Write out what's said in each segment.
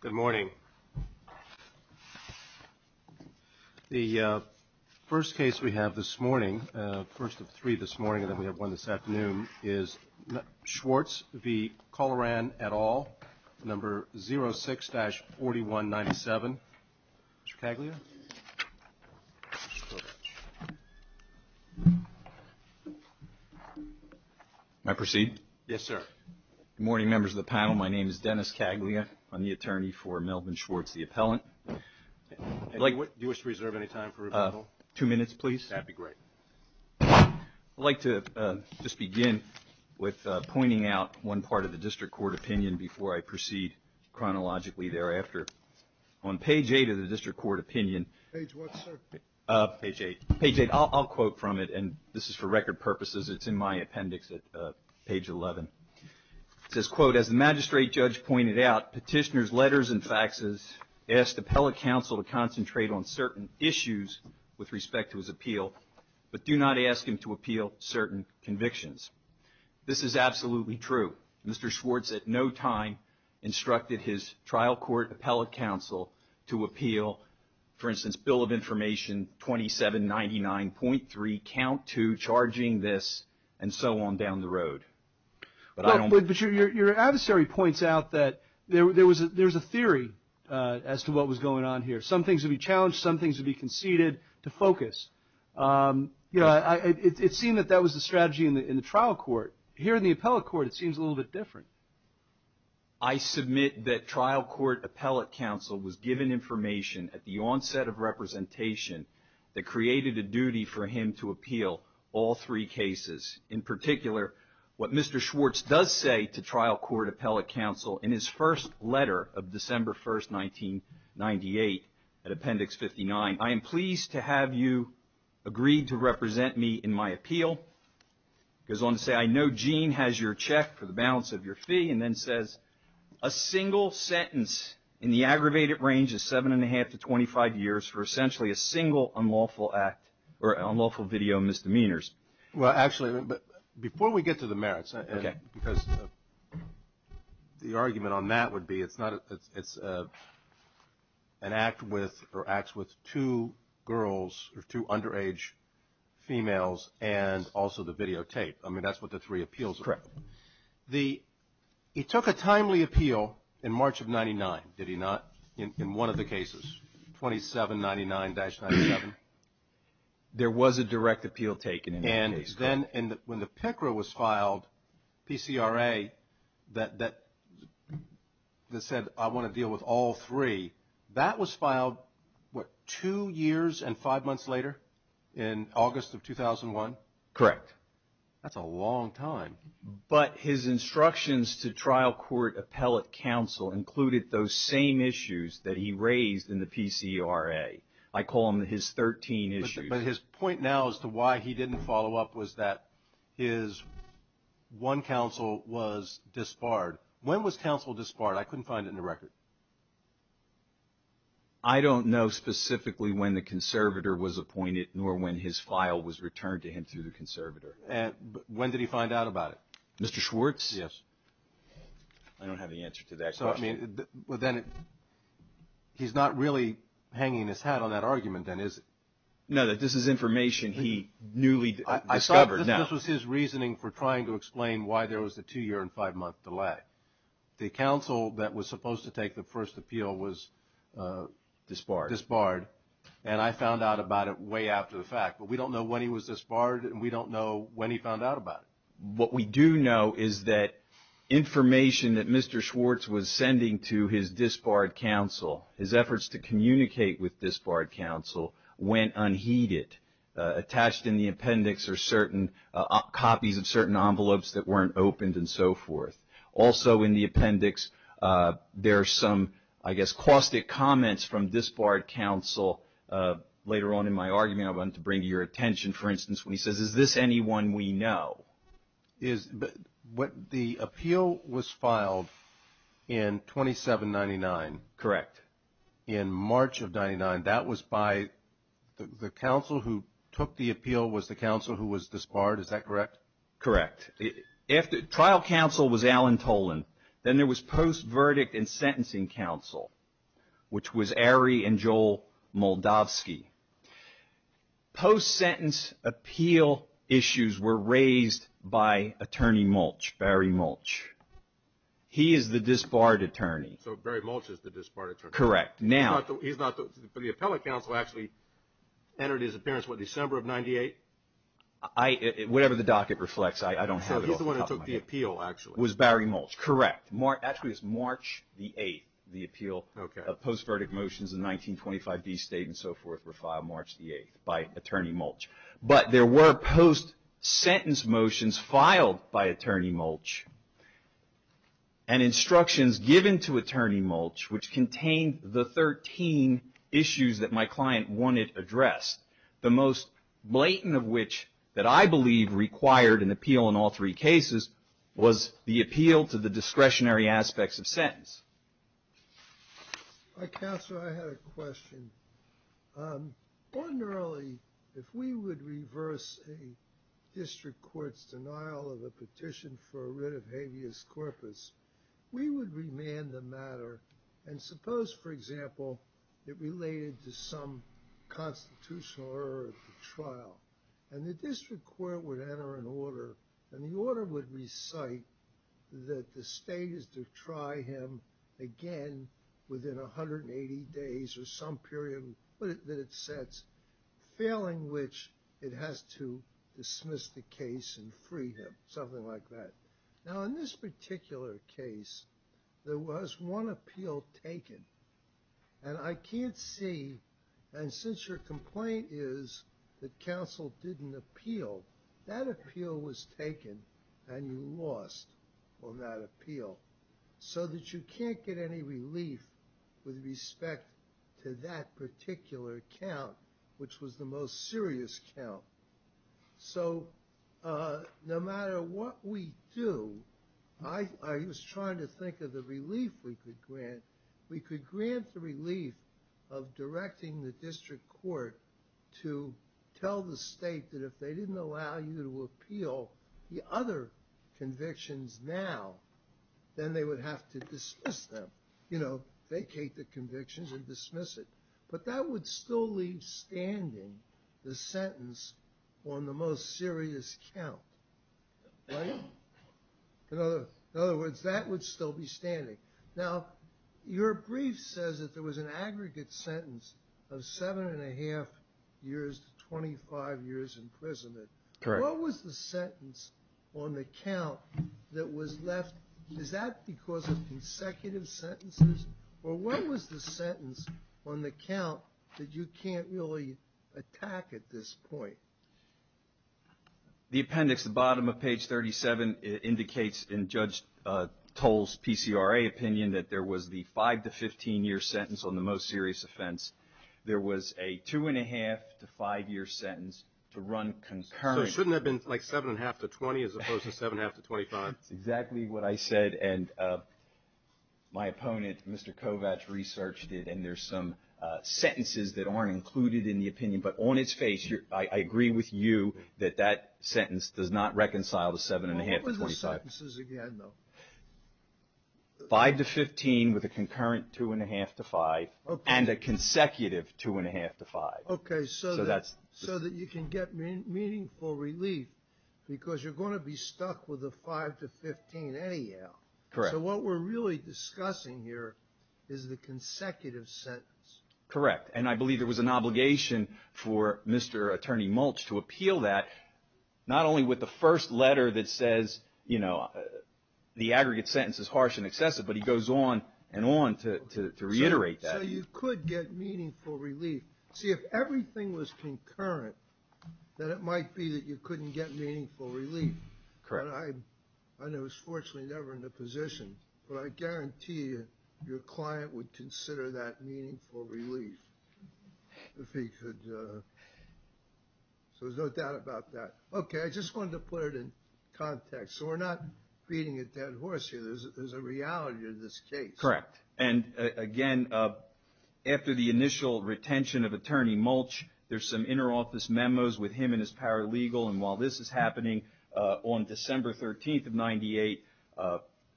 Good morning. The first case we have this morning, first of three this morning, and then we have one this afternoon, is Schwartz v. Colleran et al., number 06-4197. Mr. Caglia? May I proceed? Yes, sir. Good morning, members of the panel. My name is Dennis Caglia. I'm the attorney for Melvin Schwartz, the appellant. Do you wish to reserve any time for rebuttal? Two minutes, please. That'd be great. I'd like to just begin with pointing out one part of the district court opinion before I proceed chronologically thereafter. On page 8 of the district court opinion. Page what, sir? Page 8. Page 8. I'll quote from it, and this is for record purposes. It's in my appendix at page 11. It says, quote, as the magistrate judge pointed out, petitioner's letters and faxes asked appellate counsel to concentrate on certain issues with respect to his appeal, but do not ask him to appeal certain convictions. This is absolutely true. Mr. Schwartz at no time instructed his trial court appellate counsel to appeal, for instance, Bill of Information 2799.3, count 2, charging this, and so on down the road. But your adversary points out that there was a theory as to what was going on here. Some things would be challenged. Some things would be conceded to focus. It seemed that that was the strategy in the trial court. Here in the appellate court, it seems a little bit different. I submit that trial court appellate counsel was given information at the onset of representation that created a duty for him to appeal all three cases. In particular, what Mr. Schwartz does say to trial court appellate counsel in his first letter of December 1st, 1998, at appendix 59, I am pleased to have you agreed to represent me in my appeal. He goes on to say, I know Gene has your check for the balance of your fee, and then says, a single sentence in the aggravated range of 7 1⁄2 to 25 years for essentially a single unlawful act or unlawful video misdemeanors. Well, actually, before we get to the merits, because the argument on that would be it's an act with or acts with two girls or two underage females and also the videotape. I mean, that's what the three appeals are. Correct. He took a timely appeal in March of 1999, did he not, in one of the cases, 2799-97? There was a direct appeal taken in that case. And when the PICRA was filed, PCRA, that said, I want to deal with all three, that was filed, what, two years and five months later in August of 2001? Correct. That's a long time. But his instructions to trial court appellate counsel included those same issues that he raised in the PCRA. I call them his 13 issues. But his point now as to why he didn't follow up was that his one counsel was disbarred. When was counsel disbarred? I couldn't find it in the record. I don't know specifically when the conservator was appointed nor when his file was returned to him through the conservator. When did he find out about it? Mr. Schwartz? Yes. I don't have the answer to that question. So, I mean, but then he's not really hanging his hat on that argument, then, is he? No, this is information he newly discovered now. I thought this was his reasoning for trying to explain why there was a two-year and five-month delay. The counsel that was supposed to take the first appeal was disbarred. Disbarred. And I found out about it way after the fact. But we don't know when he was disbarred and we don't know when he found out about it. What we do know is that information that Mr. Schwartz was sending to his disbarred counsel, his efforts to communicate with disbarred counsel, went unheeded, attached in the appendix are certain copies of certain envelopes that weren't opened and so forth. Also, in the appendix, there are some, I guess, caustic comments from disbarred counsel. Later on in my argument, I want to bring to your attention, for instance, when he says, is this anyone we know? The appeal was filed in 2799. Correct. In March of 99. That was by the counsel who took the appeal was the counsel who was disbarred, is that correct? Correct. If the trial counsel was Alan Tolan, then there was post-verdict and sentencing counsel, which was Arie and Joel Moldavsky. Post-sentence appeal issues were raised by Attorney Mulch, Barry Mulch. He is the disbarred attorney. So Barry Mulch is the disbarred attorney. Correct. He's not, but the appellate counsel actually entered his appearance, what, December of 98? Whatever the docket reflects, I don't have it off the top of my head. So he's the one who took the appeal, actually. It was Barry Mulch. Correct. Actually, it's March the 8th. The appeal of post-verdict motions in 1925 D State and so forth were filed March the 8th by Attorney Mulch. But there were post-sentence motions filed by Attorney Mulch and instructions given to Attorney Mulch, which contained the 13 issues that my client wanted addressed. The most blatant of which that I believe required an appeal in all three cases was the appeal to the discretionary aspects of sentence. Counsel, I had a question. Ordinarily, if we would reverse a district court's denial of a petition for a writ of habeas corpus, we would remand the matter and suppose, for example, it related to some constitutional error at the trial. And the district court would enter an order, and the order would recite that the state is to try him again within 180 days or some period that it sets, failing which it has to dismiss the case and free him, something like that. Now, in this particular case, there was one appeal taken. And I can't see, and since your complaint is that counsel didn't appeal, that appeal was taken and you lost on that appeal. So that you can't get any relief with respect to that particular account, which was the most serious account. So, no matter what we do, I, I was trying to think of the relief we could grant. We could grant the relief of directing the district court to tell the state that if they didn't allow you to appeal the other convictions now, then they would have to dismiss them. You know, vacate the convictions and dismiss it. But that would still leave standing the sentence on the most serious count. Right? In other, in other words, that would still be standing. Now, your brief says that there was an aggregate sentence of seven and a half years to 25 years imprisonment. Correct. What was the sentence on the count that was left? Is that because of consecutive sentences? Or what was the sentence on the count that you can't really attack at this point? The appendix, the bottom of page 37, it indicates in Judge Toll's PCRA opinion that there was the five to 15 year sentence on the most serious offense. There was a two and a half to five year sentence to run concurrently. So shouldn't it have been like seven and a half to 20 as opposed to seven and a half to 25? That's exactly what I said and my opponent, Mr. Kovach, researched it. And there's some sentences that aren't included in the opinion. But on its face, I agree with you that that sentence does not reconcile to seven and a half to 25. What were the sentences again, though? Five to 15 with a concurrent two and a half to five. Okay. And a consecutive two and a half to five. Okay, so that you can get meaningful relief because you're going to be stuck with a five to 15 AAL. Correct. So what we're really discussing here is the consecutive sentence. Correct. And I believe there was an obligation for Mr. Attorney Mulch to appeal that, not only with the first letter that says, you know, the aggregate sentence is harsh and excessive, but he goes on and on to reiterate that. So you could get meaningful relief. See, if everything was concurrent, then it might be that you couldn't get meaningful relief. Correct. I know it's fortunately never in the position, but I guarantee your client would consider that meaningful relief. If he could. So there's no doubt about that. Okay. I just wanted to put it in context. So we're not beating a dead horse here. There's a reality to this case. Correct. And again, after the initial retention of Attorney Mulch, there's some inner office memos with him and his paralegal. And while this is happening on December 13th of 98,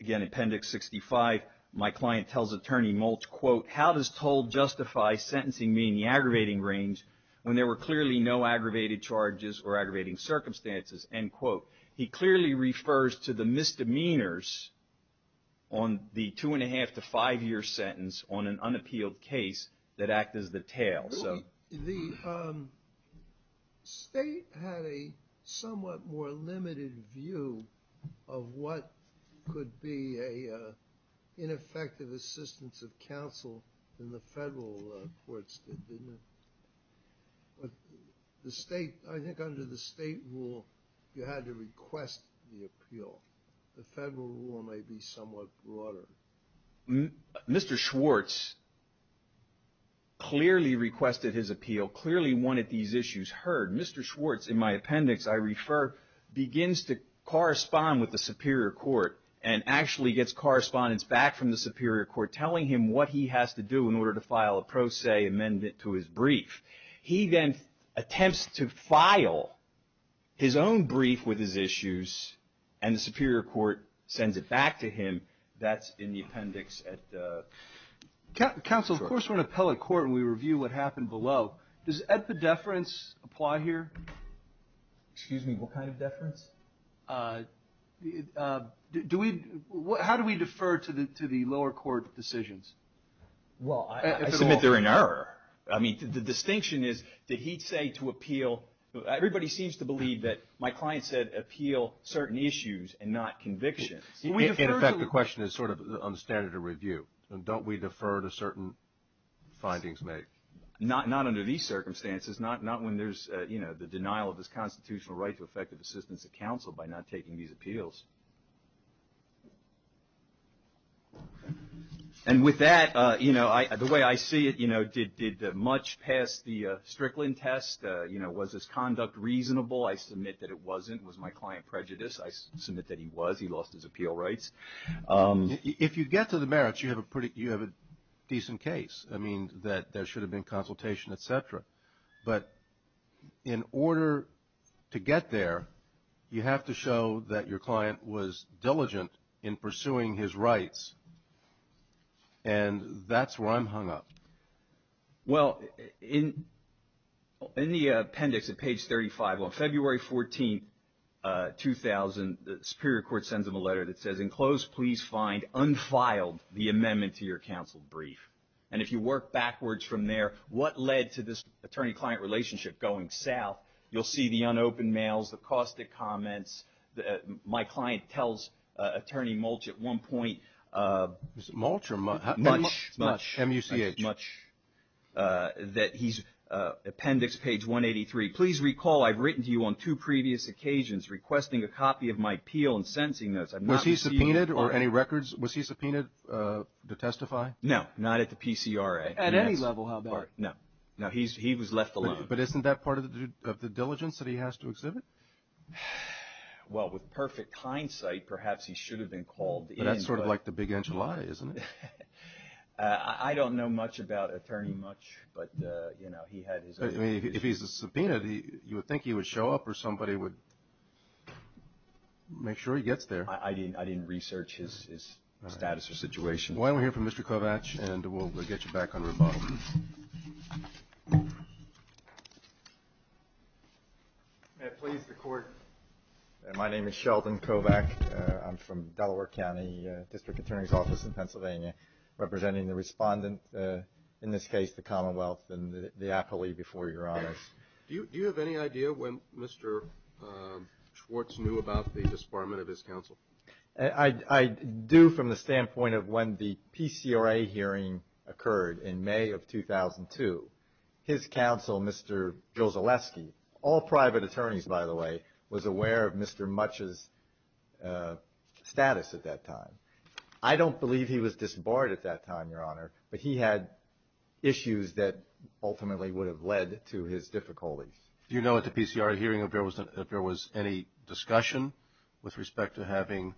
again, Appendix 65, my client tells Attorney Mulch, quote, how does toll justify sentencing me in the aggravating range when there were clearly no aggravated charges or aggravating circumstances? End quote. He clearly refers to the misdemeanors on the two and a half to five year sentence on an unappealed case that act as the tail. The state had a somewhat more limited view of what could be a ineffective assistance of counsel than the federal courts did, didn't it? But the state, I think under the state rule, you had to request the appeal. The federal rule might be somewhat broader. Mr. Schwartz clearly requested his appeal, clearly wanted these issues heard. Mr. Schwartz, in my appendix, I refer, begins to correspond with the superior court and actually gets correspondence back from the superior court telling him what he has to do in order to file a pro se amendment to his brief. He then attempts to file his own brief with his issues and the superior court sends it back to him. That's in the appendix. Counsel, of course, we're an appellate court and we review what happened below. Does epidefference apply here? Excuse me, what kind of deference? How do we defer to the lower court decisions? Well, I submit they're in error. I mean, the distinction is that he'd say to appeal, everybody seems to believe that my client said appeal certain issues and not convictions. In effect, the question is sort of on standard of review. Don't we defer to certain findings made? Not under these circumstances. Not when there's the denial of his constitutional right to effective assistance of counsel by not taking these appeals. And with that, the way I see it, did much pass the Strickland test? Was his conduct reasonable? I submit that it wasn't. Was my client prejudiced? I submit that he was. He lost his appeal rights. If you get to the merits, you have a decent case. I mean, that there should have been consultation, et cetera. But in order to get there, you have to show that your client was diligent in pursuing his rights. And that's where I'm hung up. Well, in the appendix at page 35, on February 14, 2000, the Superior Court sends him a letter that says, in close, please find unfiled the amendment to your counsel brief. And you work backwards from there. What led to this attorney-client relationship going south? You'll see the unopened mails, the caustic comments. My client tells Attorney Mulch at one point... Mulch? Mulch. That he's... Appendix, page 183. Please recall I've written to you on two previous occasions requesting a copy of my appeal and sentencing notes. Was he subpoenaed or any records? Was he subpoenaed to testify? No, not at the PCRA. At any level, how about it? No, he was left alone. But isn't that part of the diligence that he has to exhibit? Well, with perfect hindsight, perhaps he should have been called in. But that's sort of like the big enchilada, isn't it? I don't know much about Attorney Mulch, but he had his... If he's subpoenaed, you would think he would show up or somebody would make sure he gets there. I didn't research his status or situation. Why don't we hear from Mr. Kovach and we'll get you back on rebuttal. May it please the Court, my name is Sheldon Kovach. I'm from Delaware County District Attorney's Office in Pennsylvania representing the respondent, in this case the Commonwealth and the appellee before Your Honors. Do you have any idea when Mr. Schwartz knew about the disbarment of his counsel? I do from the standpoint that the PCRA hearing occurred in May of 2002. His counsel, Mr. Jouzelewski, all private attorneys by the way, was aware of Mr. Mulch's status at that time. I don't believe he was disbarred at that time, Your Honor, but he had issues that ultimately would have led to his difficulties. Do you know at the PCRA hearing if there was any discussion with respect to having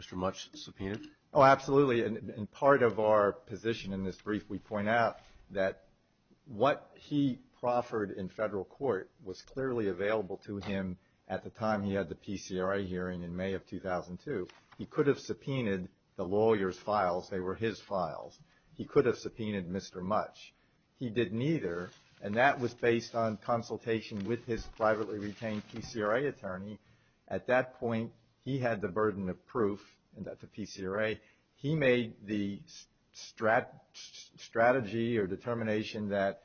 Mr. Mulch subpoenaed? Oh, absolutely. In part of our position in this brief, we point out that what he proffered in federal court was clearly available to him at the time he had the PCRA hearing in May of 2002. He could have subpoenaed the lawyer's files. They were his files. He could have subpoenaed Mr. Mulch. He didn't either, and that was based on consultation with his privately retained PCRA attorney. At that point, he had the burden of proof and so anyway, he made the strategy or determination that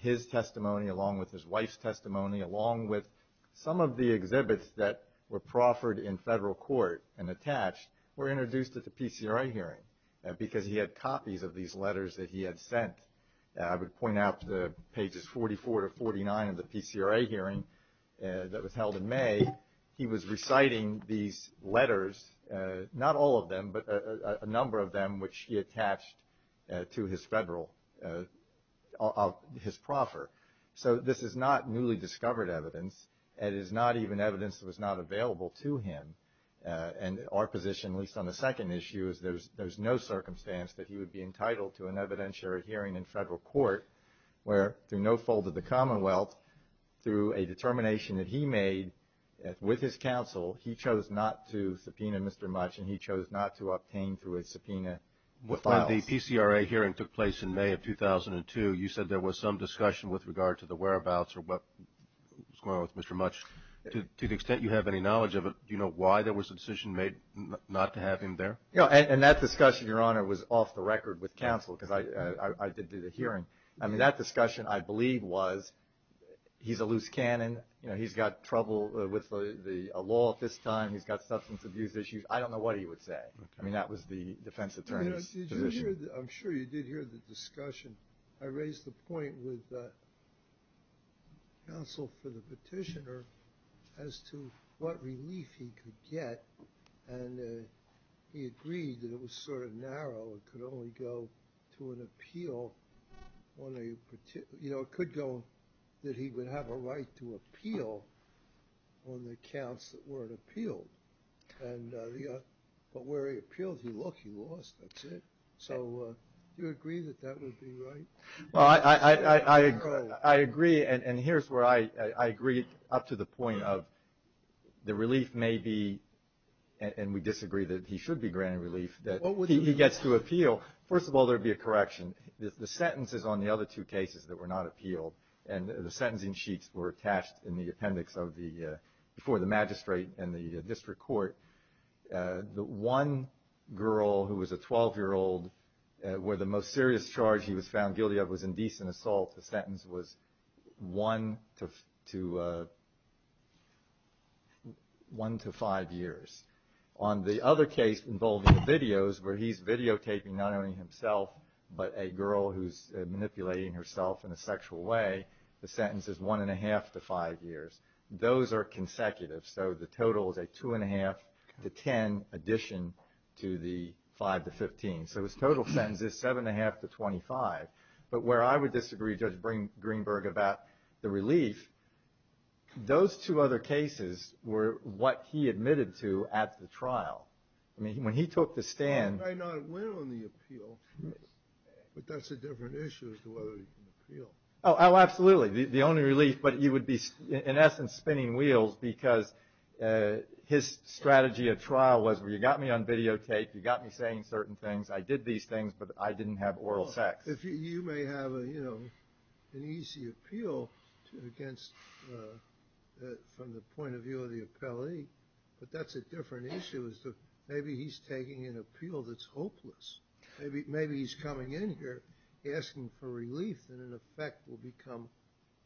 his testimony along with his wife's testimony along with some of the exhibits that were proffered in federal court and attached were introduced at the PCRA hearing because he had copies of these letters that he had sent. I would point out the pages 44 to 49 of the PCRA hearing that was held in May. He was reciting these letters, a number of them, which he attached to his federal, his proffer. So this is not newly discovered evidence and is not even evidence that was not available to him and our position, at least on the second issue, is there's no circumstance that he would be entitled to an evidentiary hearing in federal court where through no fault of the Commonwealth, through a determination that he made with his counsel, he chose not to subpoena Mr. Mutch and he chose not to obtain through a subpoena. When the PCRA hearing took place in May of 2002, you said there was some discussion with regard to the whereabouts or what was going on with Mr. Mutch. To the extent you have any knowledge of it, do you know why there was a decision made not to have him there? Yeah, and that discussion, Your Honor, was off the record with counsel because I did do the hearing. I mean, that discussion, I believe, was with a law at this time. He's got substance abuse issues. I don't know what he would say. I mean, that was the defense attorney's position. I'm sure you did hear the discussion. I raised the point with counsel for the petitioner as to what relief he could get and he agreed that it was sort of narrow. It could only go to an appeal. You know, it could go that he would have a right to appeal on the accounts that weren't appealed. But where he appealed, he lost, that's it. So do you agree that that would be right? Well, I agree, and here's where I agree up to the point of the relief may be, and we disagree that he should be granted relief, that he gets to appeal. First of all, there would be a correction. The sentences on the other two cases that were not appealed and the sentencing sheets were attached in the appendix before the magistrate and the district court. The one girl who was a 12-year-old where the most serious charge he was found guilty of was indecent assault, the sentence was one to five years. On the other case involving the videos where he's videotaping not only himself but a girl who's manipulating herself in a sexual way, the sentence is one and a half to five years. Those are consecutive, so the total is a two and a half to 10 addition to the five to 15. So his total sentence is seven and a half to 25. But where I would disagree, Judge Greenberg, about the relief, those two other cases were what he admitted to at the trial. I mean, when he took the stand... I know it went on the appeal, but that's a different issue as to whether he can appeal. Oh, absolutely. The only relief, but you would be in essence spinning wheels because his strategy at trial was you got me on videotape, you got me saying certain things, I did these things, but I didn't have oral sex. You may have an easy appeal from the point of view of the appellee, but that's a different issue as to maybe he's taking an appeal that's hopeless. Maybe he's coming in here asking for relief and in effect will become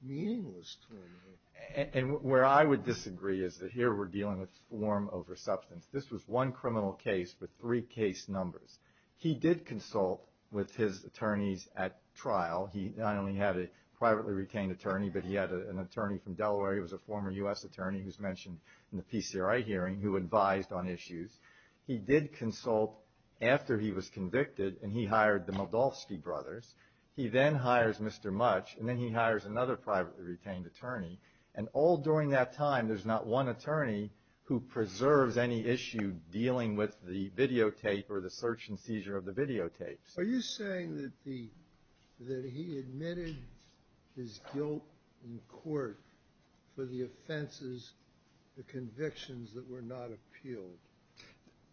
meaningless to him. And where I would disagree is that here we're dealing with form over substance. This was one criminal case with three case numbers. He did consult with his attorneys at trial. He not only had a privately retained attorney, but he had an attorney from Delaware. He was a former U.S. attorney who's mentioned in the PCRI hearing who advised on issues. He did consult after he was convicted and he hired the Moldovsky brothers. He then hires Mr. Mutch and then he hires another privately retained attorney. And all during that time, there's not one attorney who preserves any issue dealing with the videotape or the search and seizure of the videotapes. Are you saying that he admitted his guilt in court for the offenses, the convictions that were not appealed?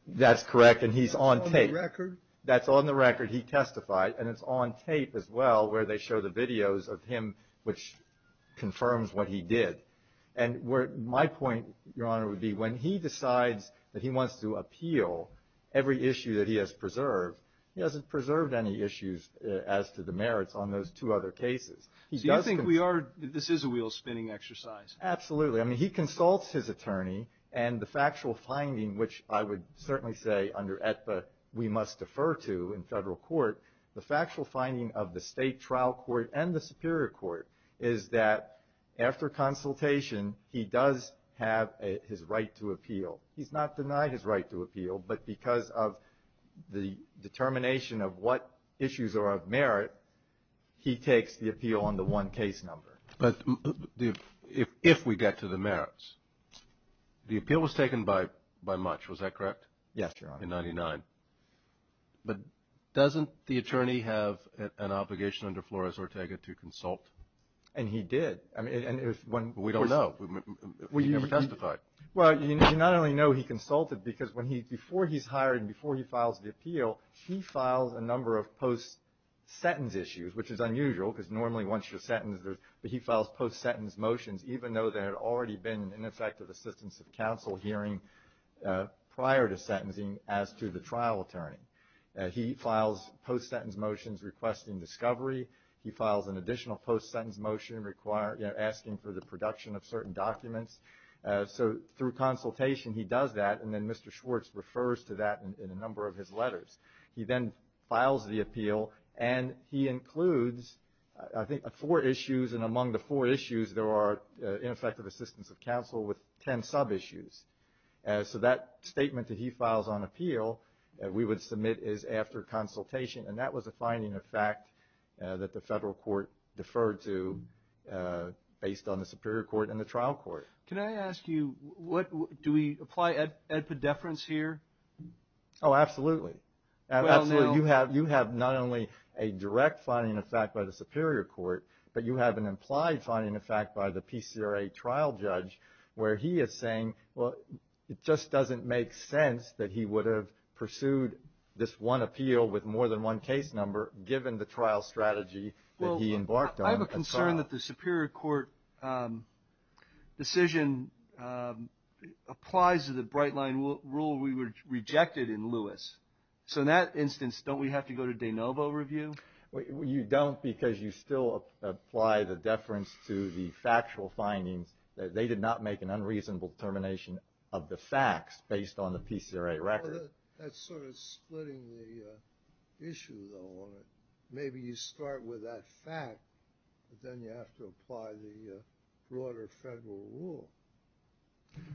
That's correct and he's on tape. Is that on the record? That's on the record. He testified and it's on tape as well where they show the videos of him which confirms what he did. And my point, Your Honor, would be when he decides that he wants to appeal every issue that he has preserved, he hasn't preserved any issues as to the merits on those two other cases. this is a wheel spinning exercise? Absolutely. I mean, he consults his attorney and the factual finding which I would certainly say under Aetba we must defer to in federal court, the factual finding of the state trial court and the superior court is that after consultation, he does have his right to appeal. He's not denied his right to appeal but because of the determination of what issues are of merit, he takes the appeal on the one case number. But if we get to the merits, the appeal was taken by much, was that correct? Yes, Your Honor. In 99. But doesn't the attorney have an obligation under Flores-Ortega to consult? And he did. We don't know. He never testified. Well, you not only know he consulted because before he's hired and before he files the appeal, he files a number of post-sentence issues which is unusual because normally once you're sentenced, he files post-sentence motions for ineffective assistance of counsel hearing prior to sentencing as to the trial attorney. He files post-sentence motions requesting discovery. He files an additional post-sentence motion asking for the production of certain documents. So through consultation, he does that and then Mr. Schwartz refers to that in a number of his letters. He then files the appeal and he includes, I think, four issues and among the four issues there are ineffective assistance of counsel with 10 sub-issues. So that statement that he files on appeal, we would submit is after consultation and that was a finding of fact that the federal court deferred to based on the superior court and the trial court. Can I ask you, do we apply edpid deference here? Oh, absolutely. You have not only a direct finding of fact by the superior court, but you have an implied finding of fact by the PCRA trial judge where he is saying, well, it just doesn't make sense that he would have pursued this one appeal with more than one case number given the trial strategy that he embarked on and so on. I have a concern that the superior court decision applies to the bright line rule we rejected in Lewis. So in that instance, don't we have to go to de novo review? You don't because you still apply the deference to the factual findings. They did not make an unreasonable termination of the facts based on the PCRA record. That's sort of splitting the issue though. Maybe you start with that fact, but then you have to apply the broader federal rule.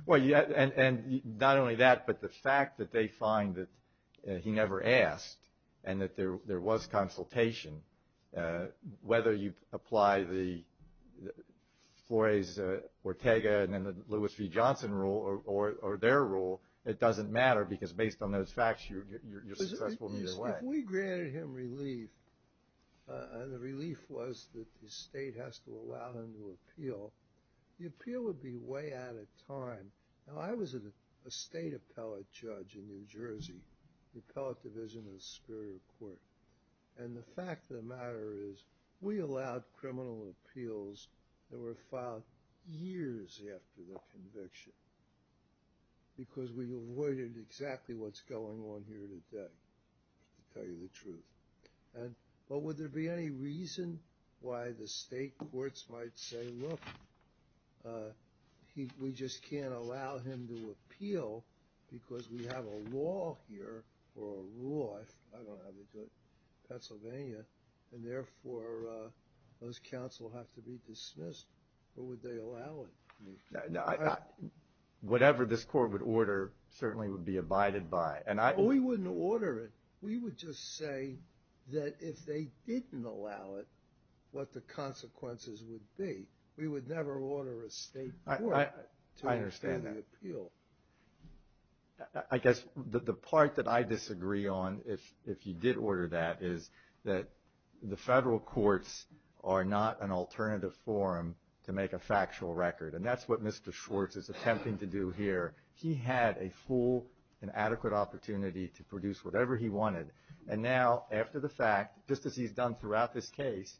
Well, not only that, but the fact that they find that he never asked and that there was consultation, whether you apply Flores, Ortega, and then the Lewis v. Johnson rule or their rule, it doesn't matter because based on those facts, you're successful either way. If we granted him relief and the relief was that the state has to allow him to appeal, the appeal would be way out of time. Now, I was a state appellate judge in New Jersey, the appellate division of the superior court. And the fact of the matter is we allowed criminal appeals to be filed years after the conviction because we avoided exactly what's going on here today, to tell you the truth. But would there be any reason why the state courts might say, look, we just can't allow him to appeal because we have a law here or a rule, I don't know how they do it, Pennsylvania, and therefore those counts will have to be dismissed. Or would they allow it? Whatever this court would order certainly would be abided by. We wouldn't order it. We would just say that if they didn't allow it, what the consequences would be. We would never order a state court to understand the appeal. I understand that. I guess the part that I disagree on, if you did order that, is that the federal courts are not an alternative forum to make a factual record. And that's what Mr. Schwartz is attempting to do here. He had a full and adequate opportunity to produce whatever he wanted. And now after the fact, just as he's done throughout this case,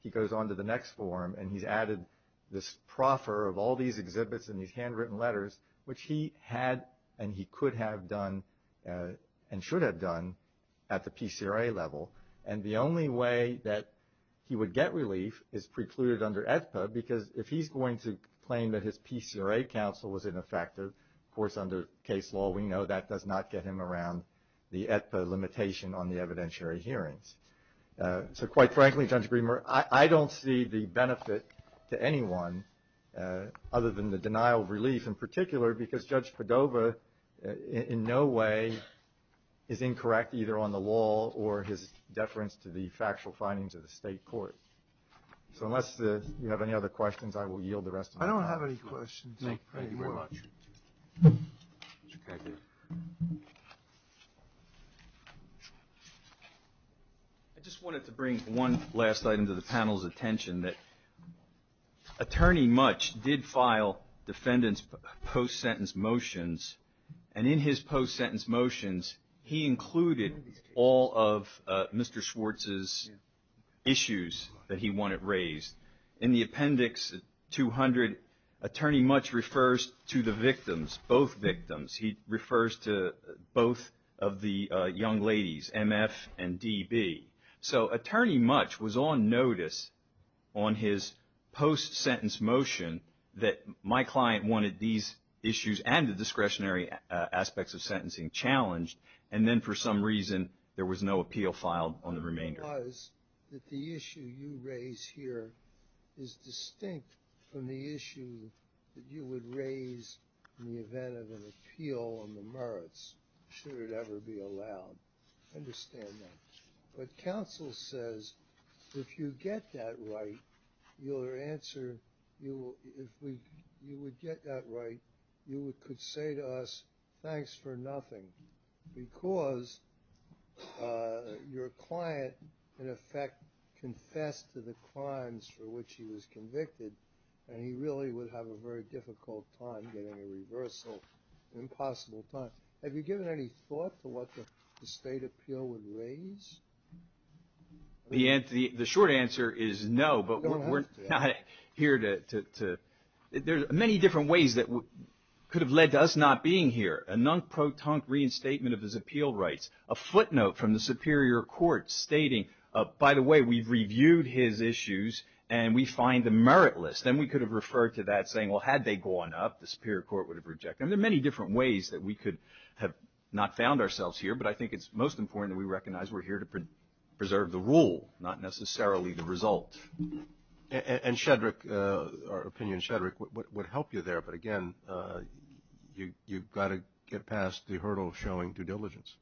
he goes on to the next forum and he's added this proffer of all these exhibits and these handwritten letters, which he had and he could have done and should have done at the PCRA level. And the only way that he would get relief is precluded under AEDPA because if he's going to claim that his PCRA counsel was ineffective, of course under case law we know that does not get him around the AEDPA limitation on the evidentiary hearings. So quite frankly, Judge Greenberg, I don't see the benefit to anyone other than the denial of relief in particular because Judge Padova in no way is either on the law or his deference to the factual findings of the state court. So unless you have any other questions, I will yield the rest of the time. I don't have any questions. Thank you very much. I just wanted to bring one last item to the panel's attention that Attorney Mutch did file defendant's post-sentence motions and in his post-sentence motions he included all of Mr. Schwartz's issues that he wanted raised. In the appendix 200, Attorney Mutch refers to the victims, both victims. He refers to both of the young ladies, M.F. and D.B. So Attorney Mutch was on notice on his post-sentence motion that my client wanted these issues and the discretionary aspects of sentencing challenged and then for some reason there was no appeal filed on the remainder. It was that the issue you raise here is distinct from the issue that you would raise in the event of an appeal on the merits should it ever be allowed. Understand that. But counsel says if you get that right, your answer, if you would get that right, you could say to us thanks for nothing because your client in effect confessed to the crimes for which he was convicted and he really would have a very difficult time getting a reversal, an impossible time. Have you given any thought to what the state appeal would raise? The short answer is no, but we're not here to, there are many different ways that could have led to us not being here. A non-pro-tunk reinstatement of his appeal rights. A footnote from the Superior Court stating, by the way, we've reviewed his issues and we find them meritless. Then we could have referred to that saying, well, had they gone up, the Superior Court would have rejected them. There are many different ways that we could have not found ourselves here, but I think it's most important that we recognize we're here to preserve the rule, not necessarily the result. And Shedrick, our opinion, Shedrick, would help you there, but again, you've got to get past the hurdle of showing due diligence.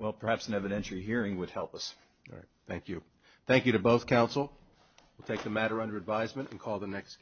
Well, perhaps an evidentiary hearing would help us. All right. Thank you. Thank you to both counsel. We'll take the matter under advisement and call the next case.